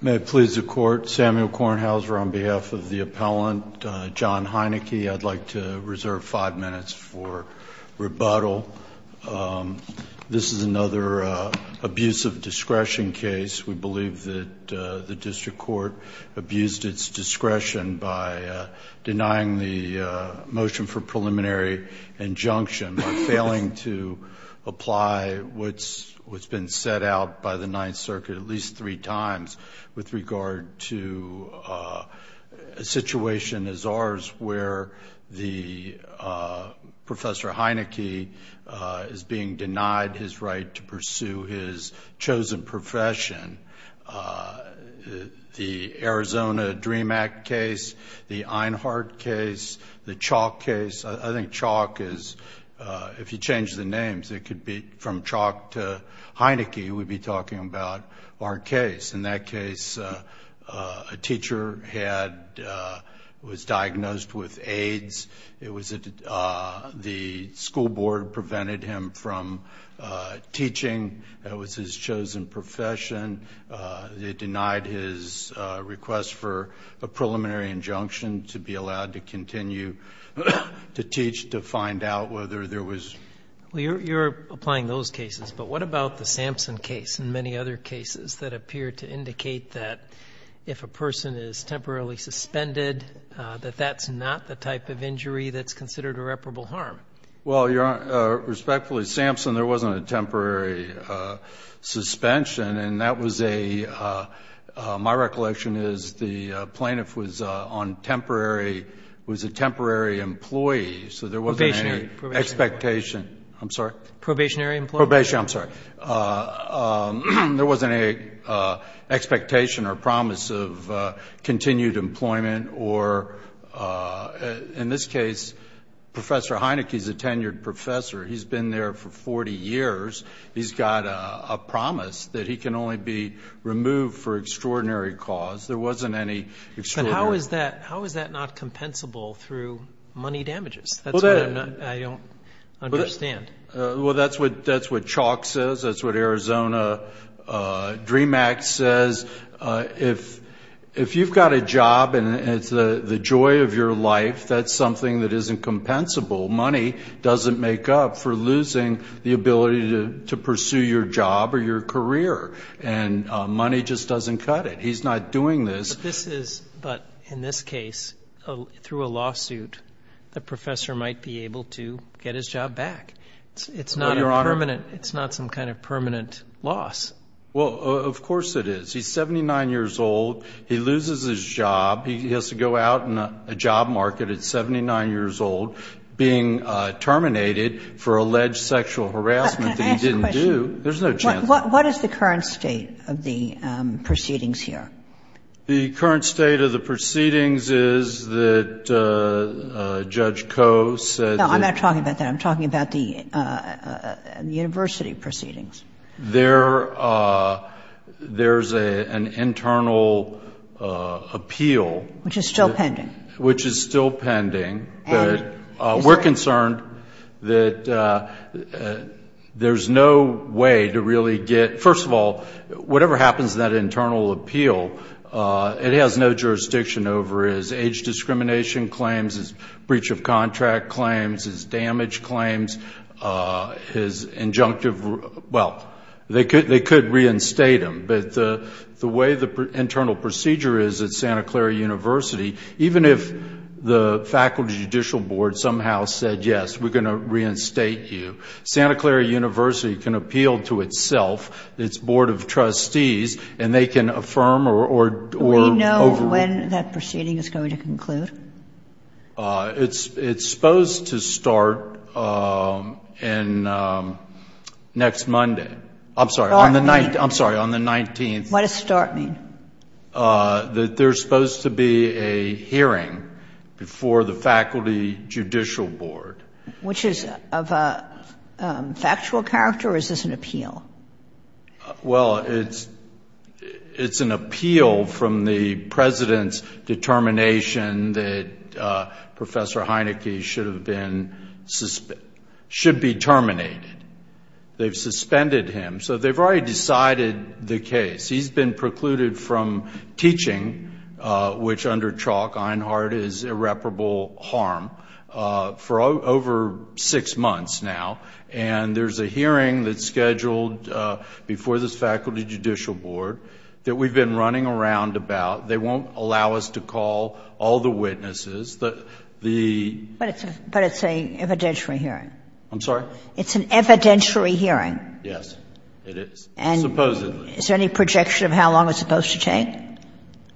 May it please the court, Samuel Kornhauser on behalf of the appellant, John Heineke. I'd like to reserve five minutes for rebuttal. This is another abuse of discretion case. We believe that the district court abused its discretion by denying the motion for preliminary injunction, by failing to apply what's been set out by the Ninth Circuit at least three times with regard to a situation as ours where the Professor Heineke is being denied his right to pursue his chosen profession. The Arizona Dream Act case, the Einhardt case, the Chalk case. I think Chalk is, if you change the names, it could be from Chalk to Heineke, we'd be talking about our case. In that case, a teacher was diagnosed with AIDS. The school board prevented him from teaching. That was his chosen profession. They denied his request for a preliminary injunction to be allowed to continue to teach to find out whether there was... Well, you're applying those cases, but what about the Sampson case and many other cases that appear to indicate that if a person is temporarily suspended, that that's not the type of injury that's considered irreparable harm? Well, Your Honor, respectfully, Sampson, there wasn't a temporary suspension, and that was a, my recollection is the plaintiff was on temporary, was a temporary employee, so there wasn't any expectation. Probationary. I'm sorry? Probationary employee. Probationary, I'm sorry. There wasn't any expectation or promise of continued employment or, in this case, Professor Heineke's a tenured professor. He's been there for 40 years. He's got a promise that he can only be removed for extraordinary cause. There wasn't any extraordinary... How is that not compensable through money damages? That's what I don't understand. Well, that's what Chalk says. That's what Arizona Dream Act says. If you've got a job and it's the joy of your life, that's something that isn't compensable. Money doesn't make up for losing the ability to pursue your job or your career, and money just doesn't cut it. He's not doing this... This is, but in this case, through a lawsuit, the professor might be able to get his job back. It's not a permanent... No, Your Honor. It's not some kind of permanent loss. Well, of course it is. He's 79 years old. He loses his job. He has to go out in a job market at 79 years old, being terminated for alleged sexual harassment that he didn't do. Can I ask a question? There's no chance... What is the current state of the proceedings here? The current state of the proceedings is that Judge Koh said... No, I'm not talking about that. I'm talking about the university proceedings. There's an internal appeal... Which is still pending. Which is still pending, but we're concerned that there's no way to really get... First of all, whatever happens in that internal appeal, it has no jurisdiction over his age discrimination claims, his breach of contract claims, his damage claims, his injunctive... Even if the Faculty Judicial Board somehow said, yes, we're going to reinstate you, Santa Clara University can appeal to itself, its Board of Trustees, and they can affirm or... Do we know when that proceeding is going to conclude? It's supposed to start next Monday. I'm sorry, on the 19th. What does start mean? That there's supposed to be a hearing before the Faculty Judicial Board. Which is of a factual character, or is this an appeal? Well, it's an appeal from the President's determination that Professor Heineke should be terminated. They've suspended him, so they've already decided the case. He's been precluded from teaching, which under chalk, Einhard, is irreparable harm, for over six months now. And there's a hearing that's scheduled before this Faculty Judicial Board that we've been running around about. They won't allow us to call all the witnesses. But it's an evidentiary hearing. I'm sorry? It's an evidentiary hearing. Yes, it is, supposedly. And is there any projection of how long it's supposed to take?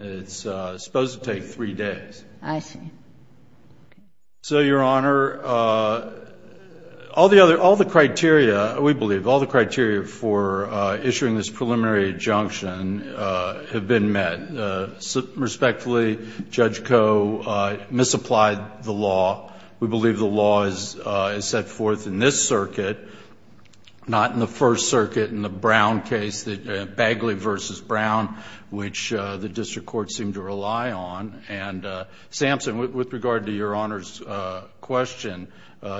It's supposed to take three days. I see. So, Your Honor, all the criteria, we believe, all the criteria for issuing this preliminary injunction have been met. Respectfully, Judge Koh misapplied the law. We believe the law is set forth in this circuit, not in the First Circuit in the Brown case, Bagley v. Brown, which the District Court seemed to rely on. And, Samson, with regard to Your Honor's question,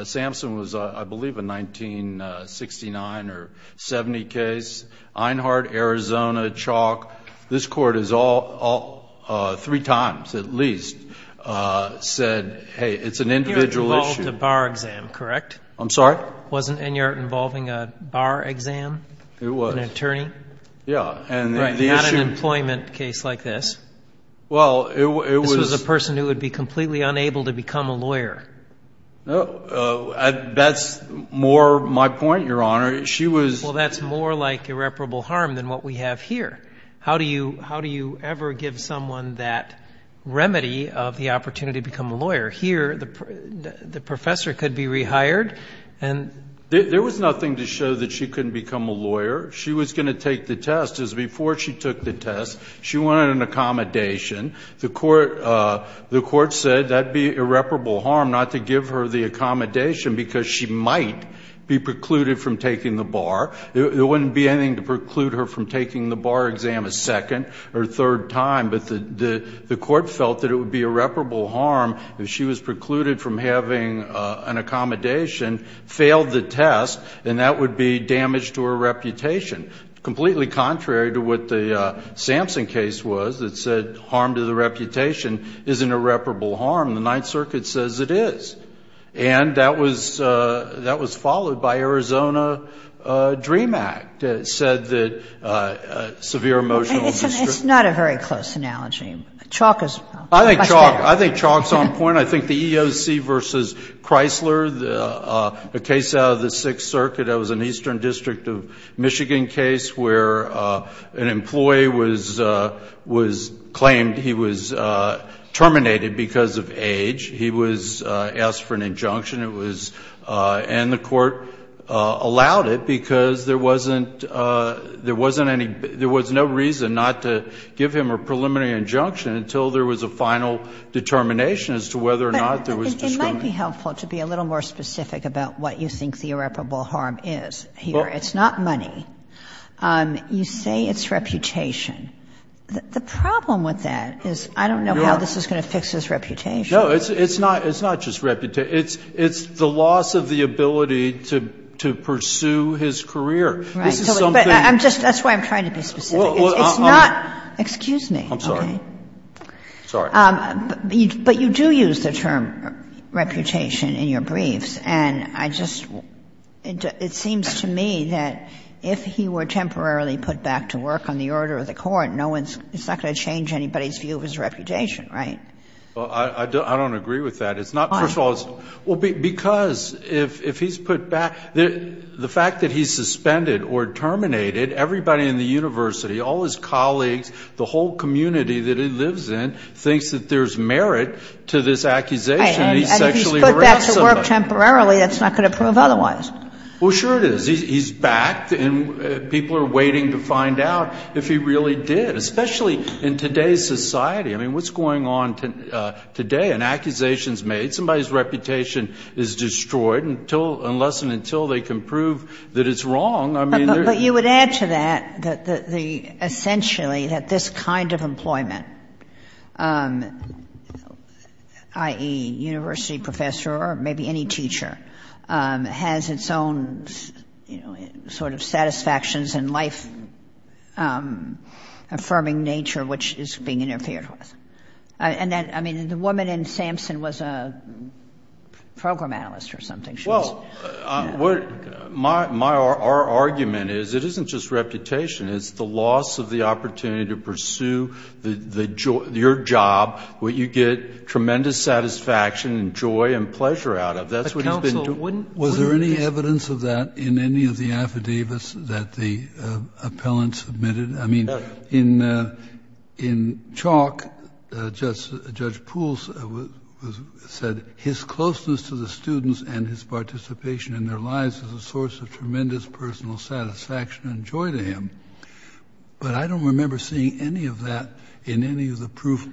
Samson was, I believe, a 1969 or 70 case. Einhard, Arizona, Chalk, this Court has all, three times at least, said, hey, it's an individual issue. Enyart involved a bar exam, correct? I'm sorry? Wasn't Enyart involving a bar exam? It was. An attorney? Yeah. Right, not an employment case like this. Well, it was. This was a person who would be completely unable to become a lawyer. That's more my point, Your Honor. Well, that's more like irreparable harm than what we have here. How do you ever give someone that remedy of the opportunity to become a lawyer? Here, the professor could be rehired. There was nothing to show that she couldn't become a lawyer. She was going to take the test. As before she took the test, she wanted an accommodation. The Court said that would be irreparable harm not to give her the accommodation because she might be precluded from taking the bar. There wouldn't be anything to preclude her from taking the bar exam a second or third time, but the Court felt that it would be irreparable harm if she was precluded from having an accommodation, failed the test, and that would be damage to her reputation, completely contrary to what the Sampson case was that said harm to the reputation isn't irreparable harm. The Ninth Circuit says it is. And that was followed by Arizona Dream Act that said that severe emotional distress. It's not a very close analogy. Chalk is much better. I think chalk is on point. I think the EEOC v. Chrysler, a case out of the Sixth Circuit, that was an Eastern District of Michigan case where an employee claimed he was terminated because of age. He was asked for an injunction, and the Court allowed it because there was no reason not to give him a preliminary injunction until there was a final determination as to whether or not there was discrimination. But it might be helpful to be a little more specific about what you think the irreparable harm is here. It's not money. You say it's reputation. The problem with that is I don't know how this is going to fix his reputation. No. It's not just reputation. It's the loss of the ability to pursue his career. Right. But I'm just – that's why I'm trying to be specific. It's not – excuse me. I'm sorry. Sorry. But you do use the term reputation in your briefs. And I just – it seems to me that if he were temporarily put back to work on the order of the Court, no one's – it's not going to change anybody's view of his reputation, right? Well, I don't agree with that. It's not – first of all, it's – Why? Well, because if he's put back – the fact that he's suspended or terminated, everybody in the university, all his colleagues, the whole community that he lives in, thinks that there's merit to this accusation. He sexually harassed somebody. Right. And if he's put back to work temporarily, that's not going to prove otherwise. Well, sure it is. He's back. And people are waiting to find out if he really did, especially in today's society. I mean, what's going on today? An accusation is made. Somebody's reputation is destroyed until – unless and until they can prove that it's wrong. But you would add to that that the – essentially that this kind of employment, i.e., university professor or maybe any teacher, has its own sort of satisfactions and life-affirming nature, which is being interfered with. And that – I mean, the woman in Samson was a program analyst or something. Well, our argument is it isn't just reputation. It's the loss of the opportunity to pursue your job, what you get tremendous satisfaction and joy and pleasure out of. That's what he's been doing. Counsel, was there any evidence of that in any of the affidavits that the appellant submitted? I mean, in Chalk, Judge Poole said, his closeness to the students and his participation in their lives is a source of tremendous personal satisfaction and joy to him. But I don't remember seeing any of that in any of the proof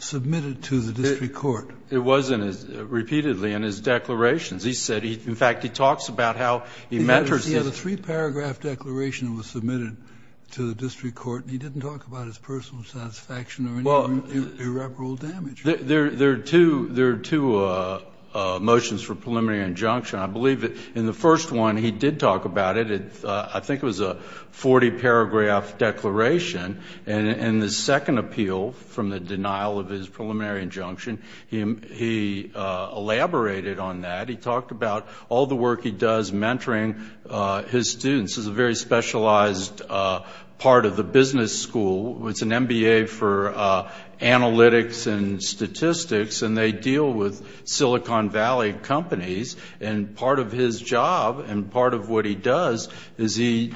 submitted to the district court. It was in his – repeatedly in his declarations. He said he – in fact, he talks about how he mentors him. There was a three-paragraph declaration that was submitted to the district court, and he didn't talk about his personal satisfaction or any irreparable damage. There are two motions for preliminary injunction. I believe in the first one he did talk about it. I think it was a 40-paragraph declaration. In the second appeal, from the denial of his preliminary injunction, he elaborated on that. He talked about all the work he does mentoring his students. It's a very specialized part of the business school. It's an MBA for analytics and statistics, and they deal with Silicon Valley companies. And part of his job and part of what he does is he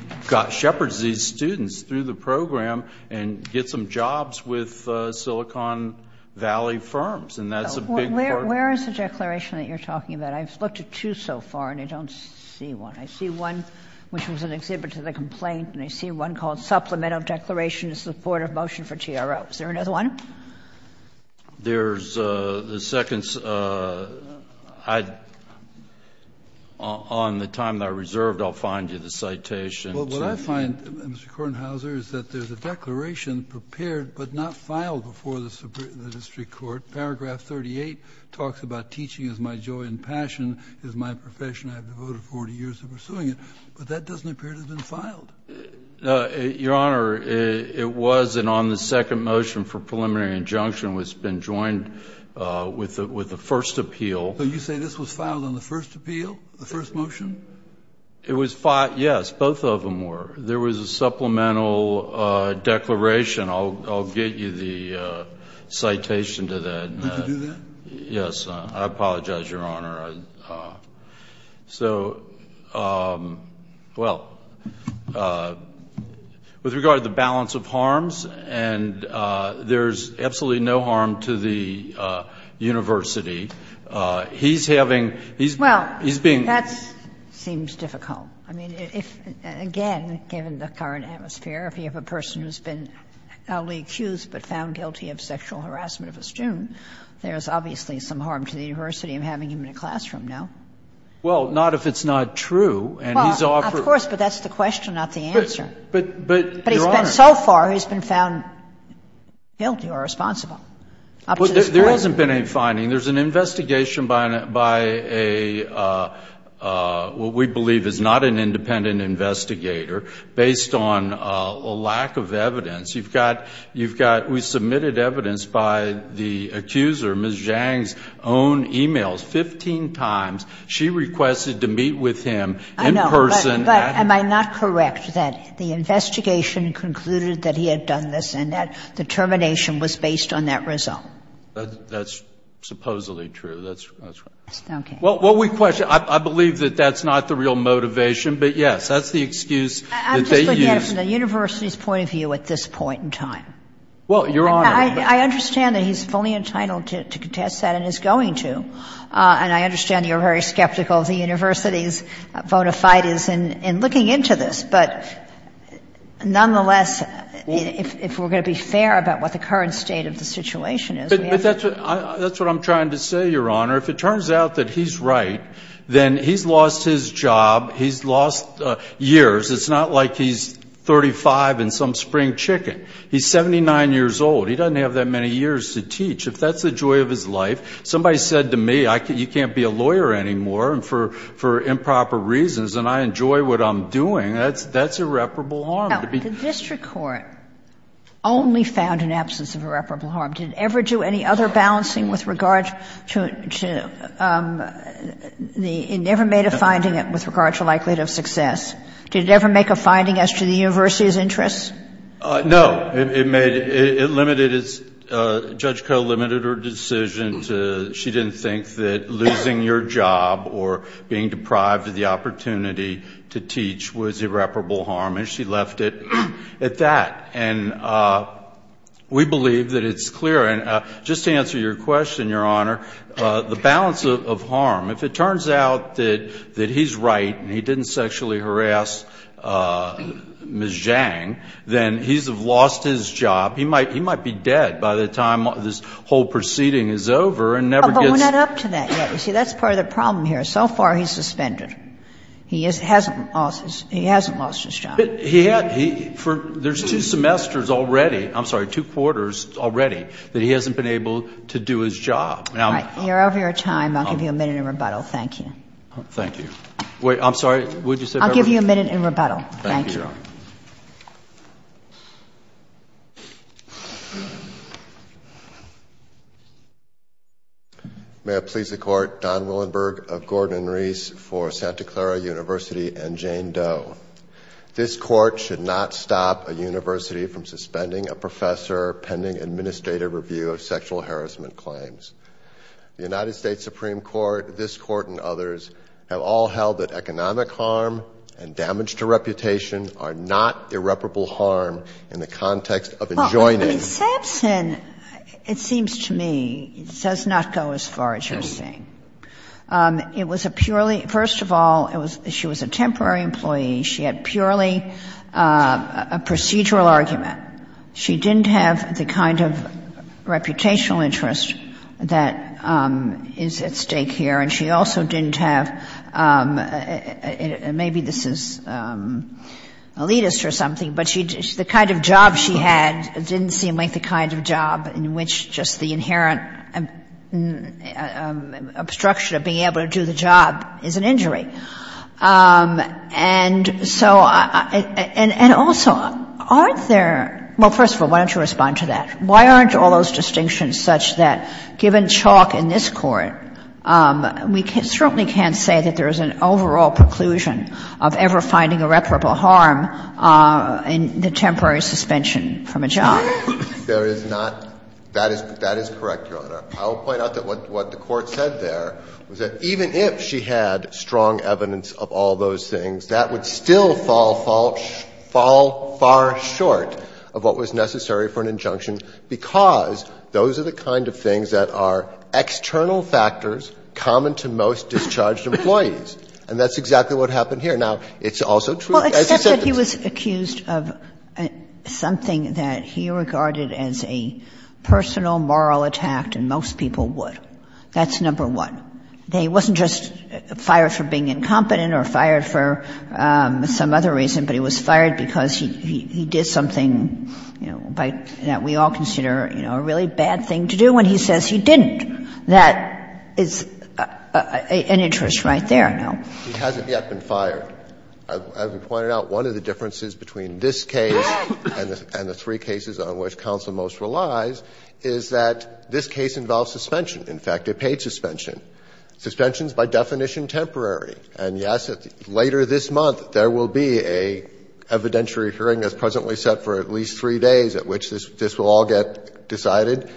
shepherds these students through the program and gets them jobs with Silicon Valley firms, and that's a big part of it. Where is the declaration that you're talking about? I've looked at two so far, and I don't see one. I see one which was an exhibit to the complaint, and I see one called supplemental declaration in support of motion for TRO. Is there another one? There's the second. On the time that I reserved, I'll find you the citation. Well, what I find, Mr. Kornhauser, is that there's a declaration prepared but not mentioned. It talks about teaching is my joy and passion is my profession. I have devoted 40 years to pursuing it, but that doesn't appear to have been filed. Your Honor, it was, and on the second motion for preliminary injunction, it's been joined with the first appeal. So you say this was filed on the first appeal, the first motion? It was filed, yes. Both of them were. There was a supplemental declaration. I'll get you the citation to that. Did you do that? Yes. I apologize, Your Honor. So, well, with regard to the balance of harms, and there's absolutely no harm to the university. He's having, he's being. Well, that seems difficult. I mean, if, again, given the current atmosphere, if you have a person who's been not only accused but found guilty of sexual harassment of a student, there's obviously some harm to the university in having him in a classroom, no? Well, not if it's not true, and he's offered. Of course, but that's the question, not the answer. But, Your Honor. But he's been, so far, he's been found guilty or responsible up to this point. There hasn't been any finding. There's an investigation by a, what we believe is not an independent investigator based on a lack of evidence. You've got, you've got, we submitted evidence by the accuser, Ms. Zhang's own e-mails, 15 times. She requested to meet with him in person. I know, but am I not correct that the investigation concluded that he had done this and that the termination was based on that result? That's supposedly true. That's right. Okay. Well, what we question, I believe that that's not the real motivation. But, yes, that's the excuse that they used. I'm just looking at it from the university's point of view at this point in time. Well, Your Honor. I understand that he's fully entitled to contest that and is going to. And I understand you're very skeptical of the university's bona fides in looking into this. But, nonetheless, if we're going to be fair about what the current state of the situation is, we have to. But that's what I'm trying to say, Your Honor. If it turns out that he's right, then he's lost his job, he's lost years. It's not like he's 35 and some spring chicken. He's 79 years old. He doesn't have that many years to teach. If that's the joy of his life, somebody said to me, you can't be a lawyer anymore for improper reasons, and I enjoy what I'm doing, that's irreparable harm. Now, the district court only found an absence of irreparable harm. Did it ever do any other balancing with regard to the – it never made a finding with regard to likelihood of success. Did it ever make a finding as to the university's interests? No. It made – it limited its – Judge Koh limited her decision to – she didn't think that losing your job or being deprived of the opportunity to teach was irreparable harm. And she left it at that. And we believe that it's clear. And just to answer your question, Your Honor, the balance of harm, if it turns out that he's right and he didn't sexually harass Ms. Zhang, then he's lost his job. He might be dead by the time this whole proceeding is over and never gets – But we're not up to that yet. You see, that's part of the problem here. So far he's suspended. He hasn't lost his job. There's two semesters already – I'm sorry, two quarters already that he hasn't been able to do his job. All right. You're over your time. I'll give you a minute in rebuttal. Thank you. Thank you. Wait, I'm sorry. What did you say? I'll give you a minute in rebuttal. Thank you. Thank you, Your Honor. May it please the Court, Don Willenberg of Gordon and Reese for Santa Clara University and Jane Doe. This Court should not stop a university from suspending a professor pending administrative review of sexual harassment claims. The United States Supreme Court, this Court, and others have all held that economic harm and damage to reputation are not irreparable harm in the context of enjoining – Well, Samson, it seems to me, does not go as far as you're saying. It was a purely – first of all, she was a temporary employee. She had purely a procedural argument. She didn't have the kind of reputational interest that is at stake here, and she also didn't have – and maybe this is elitist or something, but the kind of job she had didn't seem like the kind of job in which just the inherent obstruction of being able to do the job is an injury. And so – and also, aren't there – well, first of all, why don't you respond to that? Why aren't all those distinctions such that, given chalk in this Court, we certainly can't say that there is an overall preclusion of ever finding irreparable harm in the job? There is not. That is correct, Your Honor. I will point out that what the Court said there was that even if she had strong evidence of all those things, that would still fall far short of what was necessary for an injunction, because those are the kind of things that are external factors common to most discharged employees, and that's exactly what happened here. Kagan's case is that this is a case that's been re-regarded as a personal, moral attack than most people would. That's number one. They wasn't just fired for being incompetent, or fired for some other reason, but he was fired because he did something, you know, that we all consider, you know, a really bad thing to do, and he says he didn't. That is an interest right there, no? He hasn't yet been fired. As we pointed out, one of the differences between this case and the three cases on which counsel most relies is that this case involves suspension, in fact, a paid suspension. Suspension is by definition temporary, and yes, later this month there will be a evidentiary hearing that's presently set for at least three days at which this will all get decided,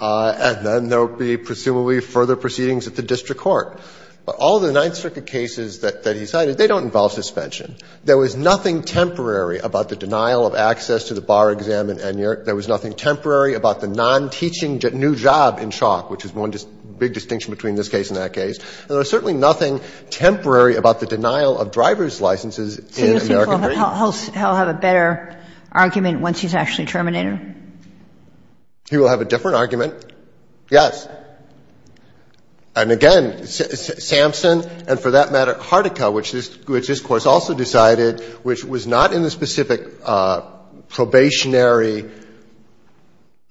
and then there will be presumably further proceedings at the district court. But all the Ninth Circuit cases that he cited, they don't involve suspension. There was nothing temporary about the denial of access to the bar exam in Enyart. There was nothing temporary about the non-teaching new job in Chalk, which is one big distinction between this case and that case. And there was certainly nothing temporary about the denial of driver's licenses in American Green. Kagan. He'll have a better argument once he's actually terminated? He will have a different argument, yes. And again, Sampson, and for that matter Harticke, which this Court also decided, which was not in the specific probationary,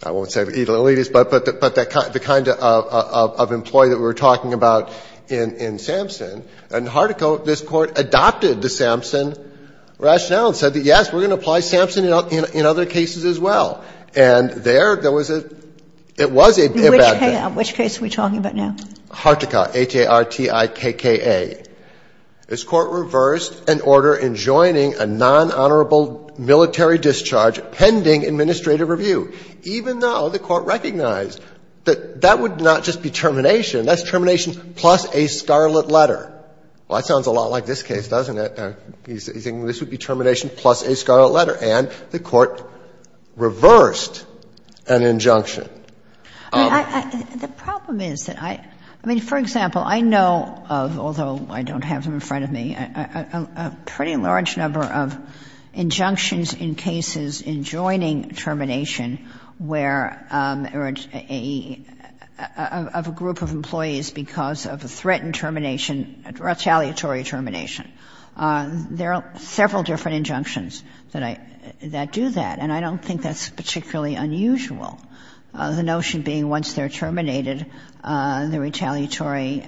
I won't say elitist, but the kind of employee that we were talking about in Sampson, and Harticke, this Court adopted the Sampson rationale and said that, yes, we're going to apply Sampson in other cases as well. And there, there was a – it was a bad decision. It was likely to have resulted in amending the exempel that was introduced The greater extent of whose terms are not — which case are we talking about now? Harticke, A-T-R-T-I-K-K-A. This Court reversed and ordered enjoyable nonhonorable military discharge in the administrative review, even though the Court recognized that that would not just be termination. That's termination plus a scarlet letter. Well, that sounds a lot like this case, doesn't it? He's thinking this would be termination plus a scarlet letter. And the Court reversed an injunction. I mean, I — the problem is that I — I mean, for example, I know of, although I don't have them in front of me, a pretty large number of injunctions in cases in joining termination where a — of a group of employees because of a threatened termination, retaliatory termination. There are several different injunctions that I — that do that, and I don't think that's particularly unusual, the notion being once they're terminated, the retaliatory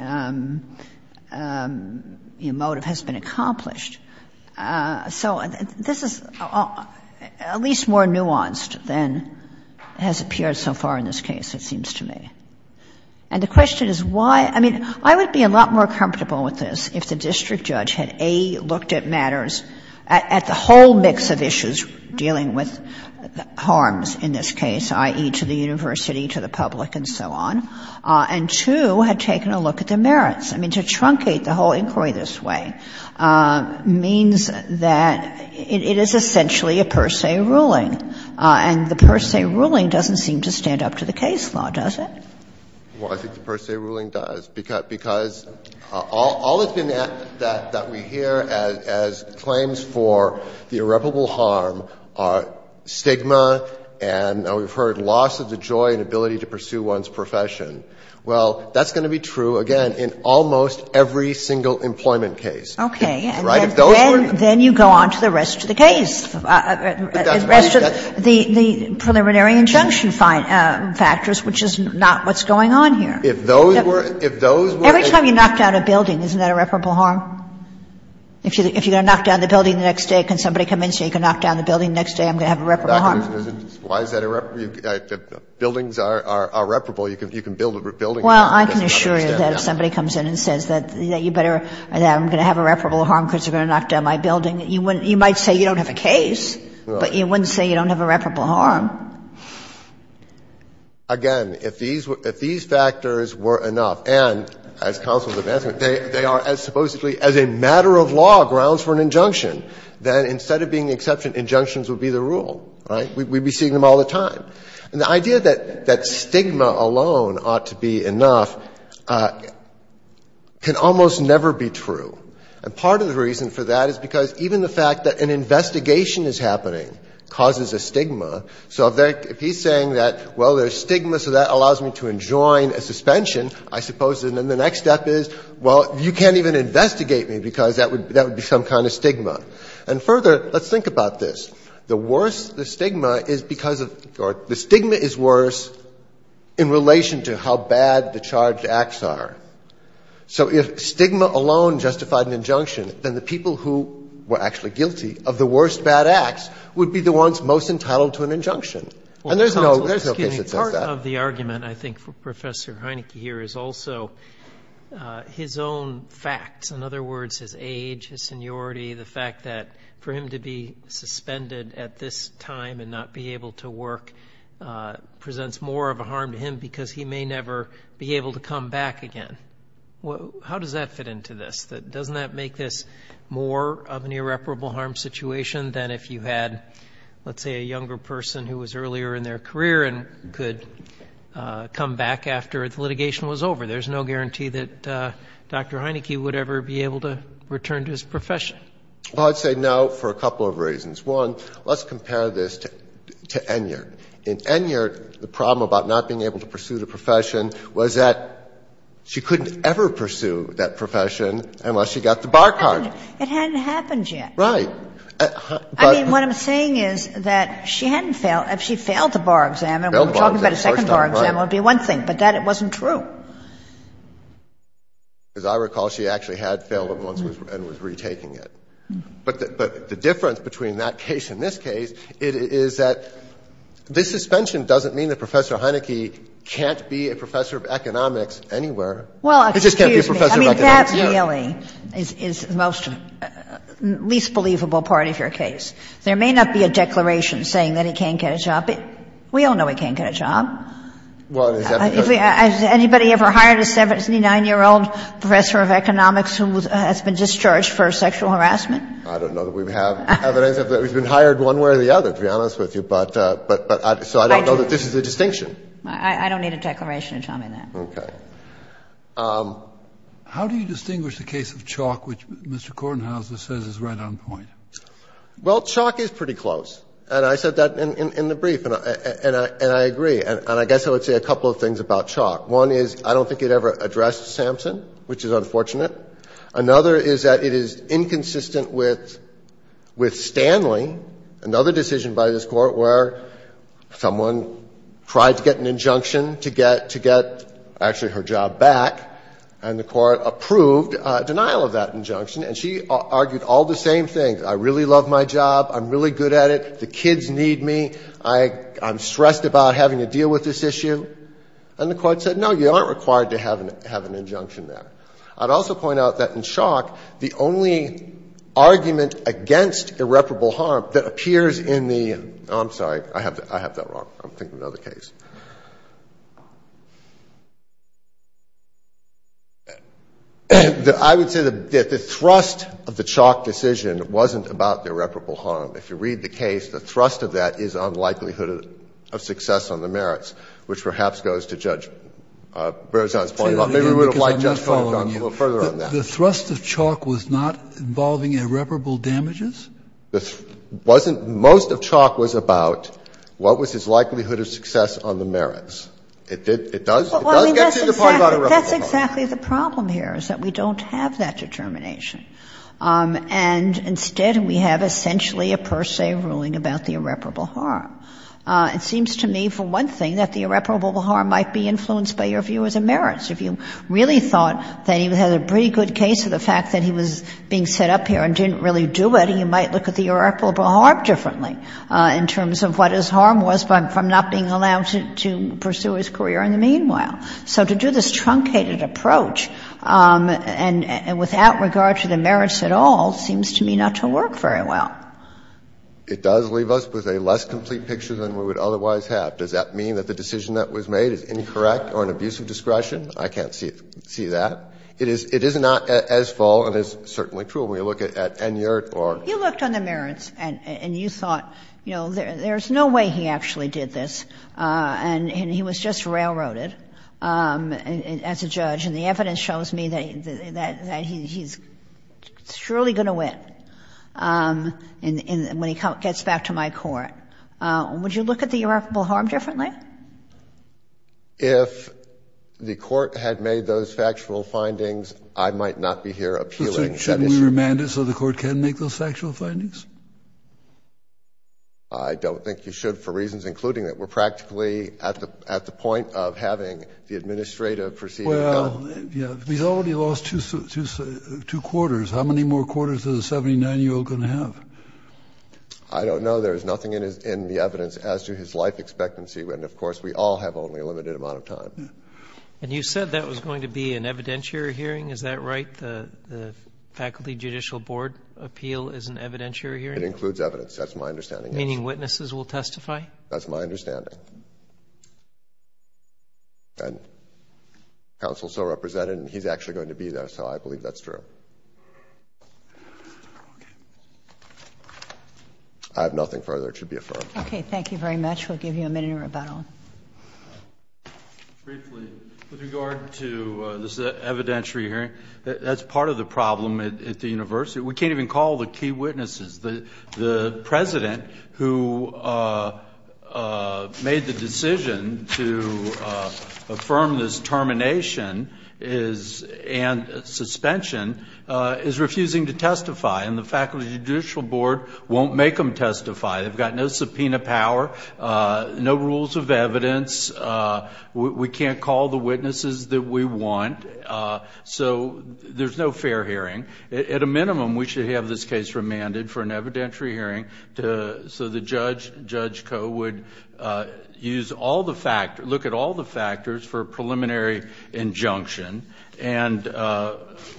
motive has been accomplished. So this is at least more nuanced than has appeared so far in this case, it seems to me. And the question is why — I mean, I would be a lot more comfortable with this if the district judge had, A, looked at matters at the whole mix of issues dealing with harms in this case, i.e., to the university, to the public, and so on, and, two, had taken a look at the merits. I mean, to truncate the whole inquiry this way means that it is essentially a per se ruling, and the per se ruling doesn't seem to stand up to the case law, does it? Well, I think the per se ruling does, because all it's been that — that we hear as claims for the irreparable harm are stigma and, we've heard, loss of the joy and ability to pursue one's profession. Well, that's going to be true, again, in almost every single employment case. Right? If those were the — Then you go on to the rest of the case, the rest of the preliminary injunction factors, which is not what's going on here. If those were — if those were — Every time you knock down a building, isn't that irreparable harm? If you're going to knock down the building the next day, can somebody come in and say, you can knock down the building the next day, I'm going to have irreparable harm? Why is that irreparable? Buildings are irreparable. You can build a building that's irreparable. Well, I can assure you that if somebody comes in and says that you better — that I'm going to have irreparable harm because you're going to knock down my building, you wouldn't — you might say you don't have a case, but you wouldn't say you don't have irreparable harm. Again, if these were — if these factors were enough, and as counsel's advancement, they are as supposedly as a matter of law grounds for an injunction, then instead of being the exception, injunctions would be the rule, right? We'd be seeing them all the time. And the idea that stigma alone ought to be enough can almost never be true. And part of the reason for that is because even the fact that an investigation is happening causes a stigma. So if he's saying that, well, there's stigma, so that allows me to enjoin a suspension, I suppose, and then the next step is, well, you can't even investigate me because that would be some kind of stigma. And further, let's think about this. The worst — the stigma is because of — or the stigma is worse in relation to how bad the charged acts are. So if stigma alone justified an injunction, then the people who were actually guilty of the worst bad acts would be the ones most entitled to an injunction. And there's no case that says that. Mr. Connolly, part of the argument, I think, for Professor Heineke here is also his own facts — in other words, his age, his seniority, the fact that for him to be suspended at this time and not be able to work presents more of a harm to him because he may never be able to come back again. How does that fit into this? Doesn't that make this more of an irreparable harm situation than if you had, let's say, a younger person who was earlier in their career and could come back after the litigation was over? There's no guarantee that Dr. Heineke would ever be able to return to his profession. Well, I'd say no for a couple of reasons. One, let's compare this to Enyart. In Enyart, the problem about not being able to pursue the profession was that she couldn't ever pursue that profession unless she got the bar card. It hadn't happened yet. Right. I mean, what I'm saying is that she hadn't failed. If she failed the bar exam, and we're talking about a second bar exam, it would be one thing, but that wasn't true. As I recall, she actually had failed it once and was retaking it. But the difference between that case and this case, it is that this suspension doesn't mean that Professor Heineke can't be a professor of economics anywhere. He just can't be a professor of economics here. Well, excuse me. I mean, that really is the most least believable part of your case. There may not be a declaration saying that he can't get a job. We all know he can't get a job. Well, it is evident. Has anybody ever hired a 79-year-old professor of economics who has been discharged for sexual harassment? I don't know that we have evidence of that. We've been hired one way or the other, to be honest with you. But I don't know that this is a distinction. I don't need a declaration to tell me that. Okay. How do you distinguish the case of Chalk, which Mr. Kornhauser says is right on point? Well, Chalk is pretty close. And I said that in the brief, and I agree. And I guess I would say a couple of things about Chalk. One is I don't think it ever addressed Sampson, which is unfortunate. Another is that it is inconsistent with Stanley, another decision by this Court where someone tried to get an injunction to get actually her job back, and the Court approved denial of that injunction, and she argued all the same things. I really love my job. I'm really good at it. The kids need me. I'm stressed about having to deal with this issue. And the Court said, no, you aren't required to have an injunction there. I'd also point out that in Chalk, the only argument against irreparable harm that appears in the – oh, I'm sorry. I have that wrong. I'm thinking of another case. I would say that the thrust of the Chalk decision wasn't about the irreparable harm. If you read the case, the thrust of that is on likelihood of success on the merits, which perhaps goes to Judge Berzon's point about maybe we would have liked Judge Berzon to go a little further on that. The thrust of Chalk was not involving irreparable damages? It wasn't – most of Chalk was about what was his likelihood of success on the merits. It did – it does get to the point about irreparable harm. That's exactly the problem here, is that we don't have that determination. And instead, we have essentially a per se ruling about the irreparable harm. It seems to me, for one thing, that the irreparable harm might be influenced by your view as a merits. If you really thought that he had a pretty good case of the fact that he was being set up here and didn't really do it, you might look at the irreparable harm differently in terms of what his harm was from not being allowed to pursue his career in the meanwhile. So to do this truncated approach and without regard to the merits at all seems to me not to work very well. It does leave us with a less complete picture than we would otherwise have. Does that mean that the decision that was made is incorrect or an abuse of discretion? I can't see that. It is not as false and as certainly true when you look at N. Yurt or the other. You looked on the merits and you thought, you know, there's no way he actually did this, and he was just railroaded. And as a judge, and the evidence shows me that he's surely going to win when he gets back to my court. Would you look at the irreparable harm differently? If the Court had made those factual findings, I might not be here appealing that issue. Should we remand it so the Court can make those factual findings? I don't think you should for reasons including that. I don't think that we would, at the point of having the administrative proceeding come. We've already lost two quarters. How many more quarters is a 79-year-old going to have? I don't know. There's nothing in the evidence as to his life expectancy. And of course, we all have only a limited amount of time. And you said that was going to be an evidentiary hearing. Is that right? The Faculty Judicial Board appeal is an evidentiary hearing? It includes evidence. That's my understanding. Meaning witnesses will testify? That's my understanding. Counsel is so represented, and he's actually going to be there. So I believe that's true. I have nothing further that should be affirmed. OK. Thank you very much. We'll give you a minute in rebuttal. Briefly, with regard to this evidentiary hearing, that's part of the problem at the university. We can't even call the key witnesses. The president, who made the decision to affirm this termination and suspension, is refusing to testify. And the Faculty Judicial Board won't make them testify. They've got no subpoena power, no rules of evidence. We can't call the witnesses that we want. So there's no fair hearing. At a minimum, we should have this case remanded for an evidentiary hearing so the judge, Judge Koh, would look at all the factors for a preliminary injunction. And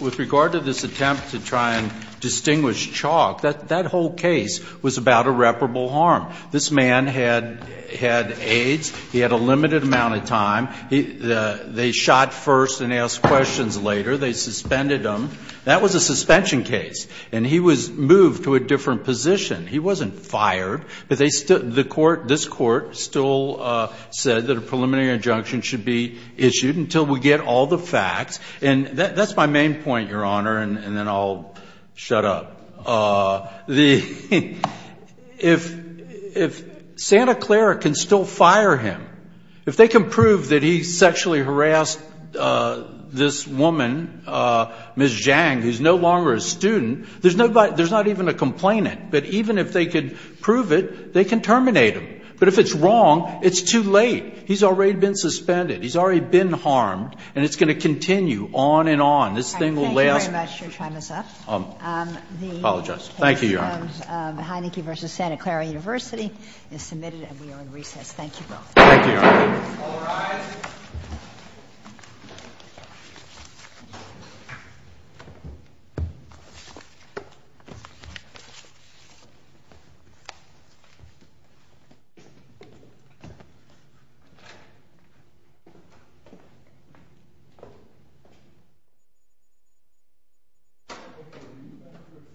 with regard to this attempt to try and distinguish chalk, that whole case was about irreparable harm. This man had AIDS. He had a limited amount of time. They shot first and asked questions later. They suspended him. That was a suspension case. And he was moved to a different position. He wasn't fired. But this court still said that a preliminary injunction should be issued until we get all the facts. And that's my main point, Your Honor. And then I'll shut up. If Santa Clara can still fire him, if they can prove that he sexually harassed this woman, Ms. Zhang, who's no longer a student, there's not even a complainant. But even if they could prove it, they can terminate him. But if it's wrong, it's too late. He's already been suspended. He's already been harmed. And it's going to continue on and on. This thing will last. Thank you very much. Your time is up. I apologize. Thank you, Your Honor. The case of Heineken v. Santa Clara University is submitted, and we are in recess. Thank you both. Thank you, Your Honor. All rise. Thank you.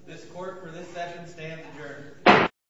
This court, for this session, stands adjourned.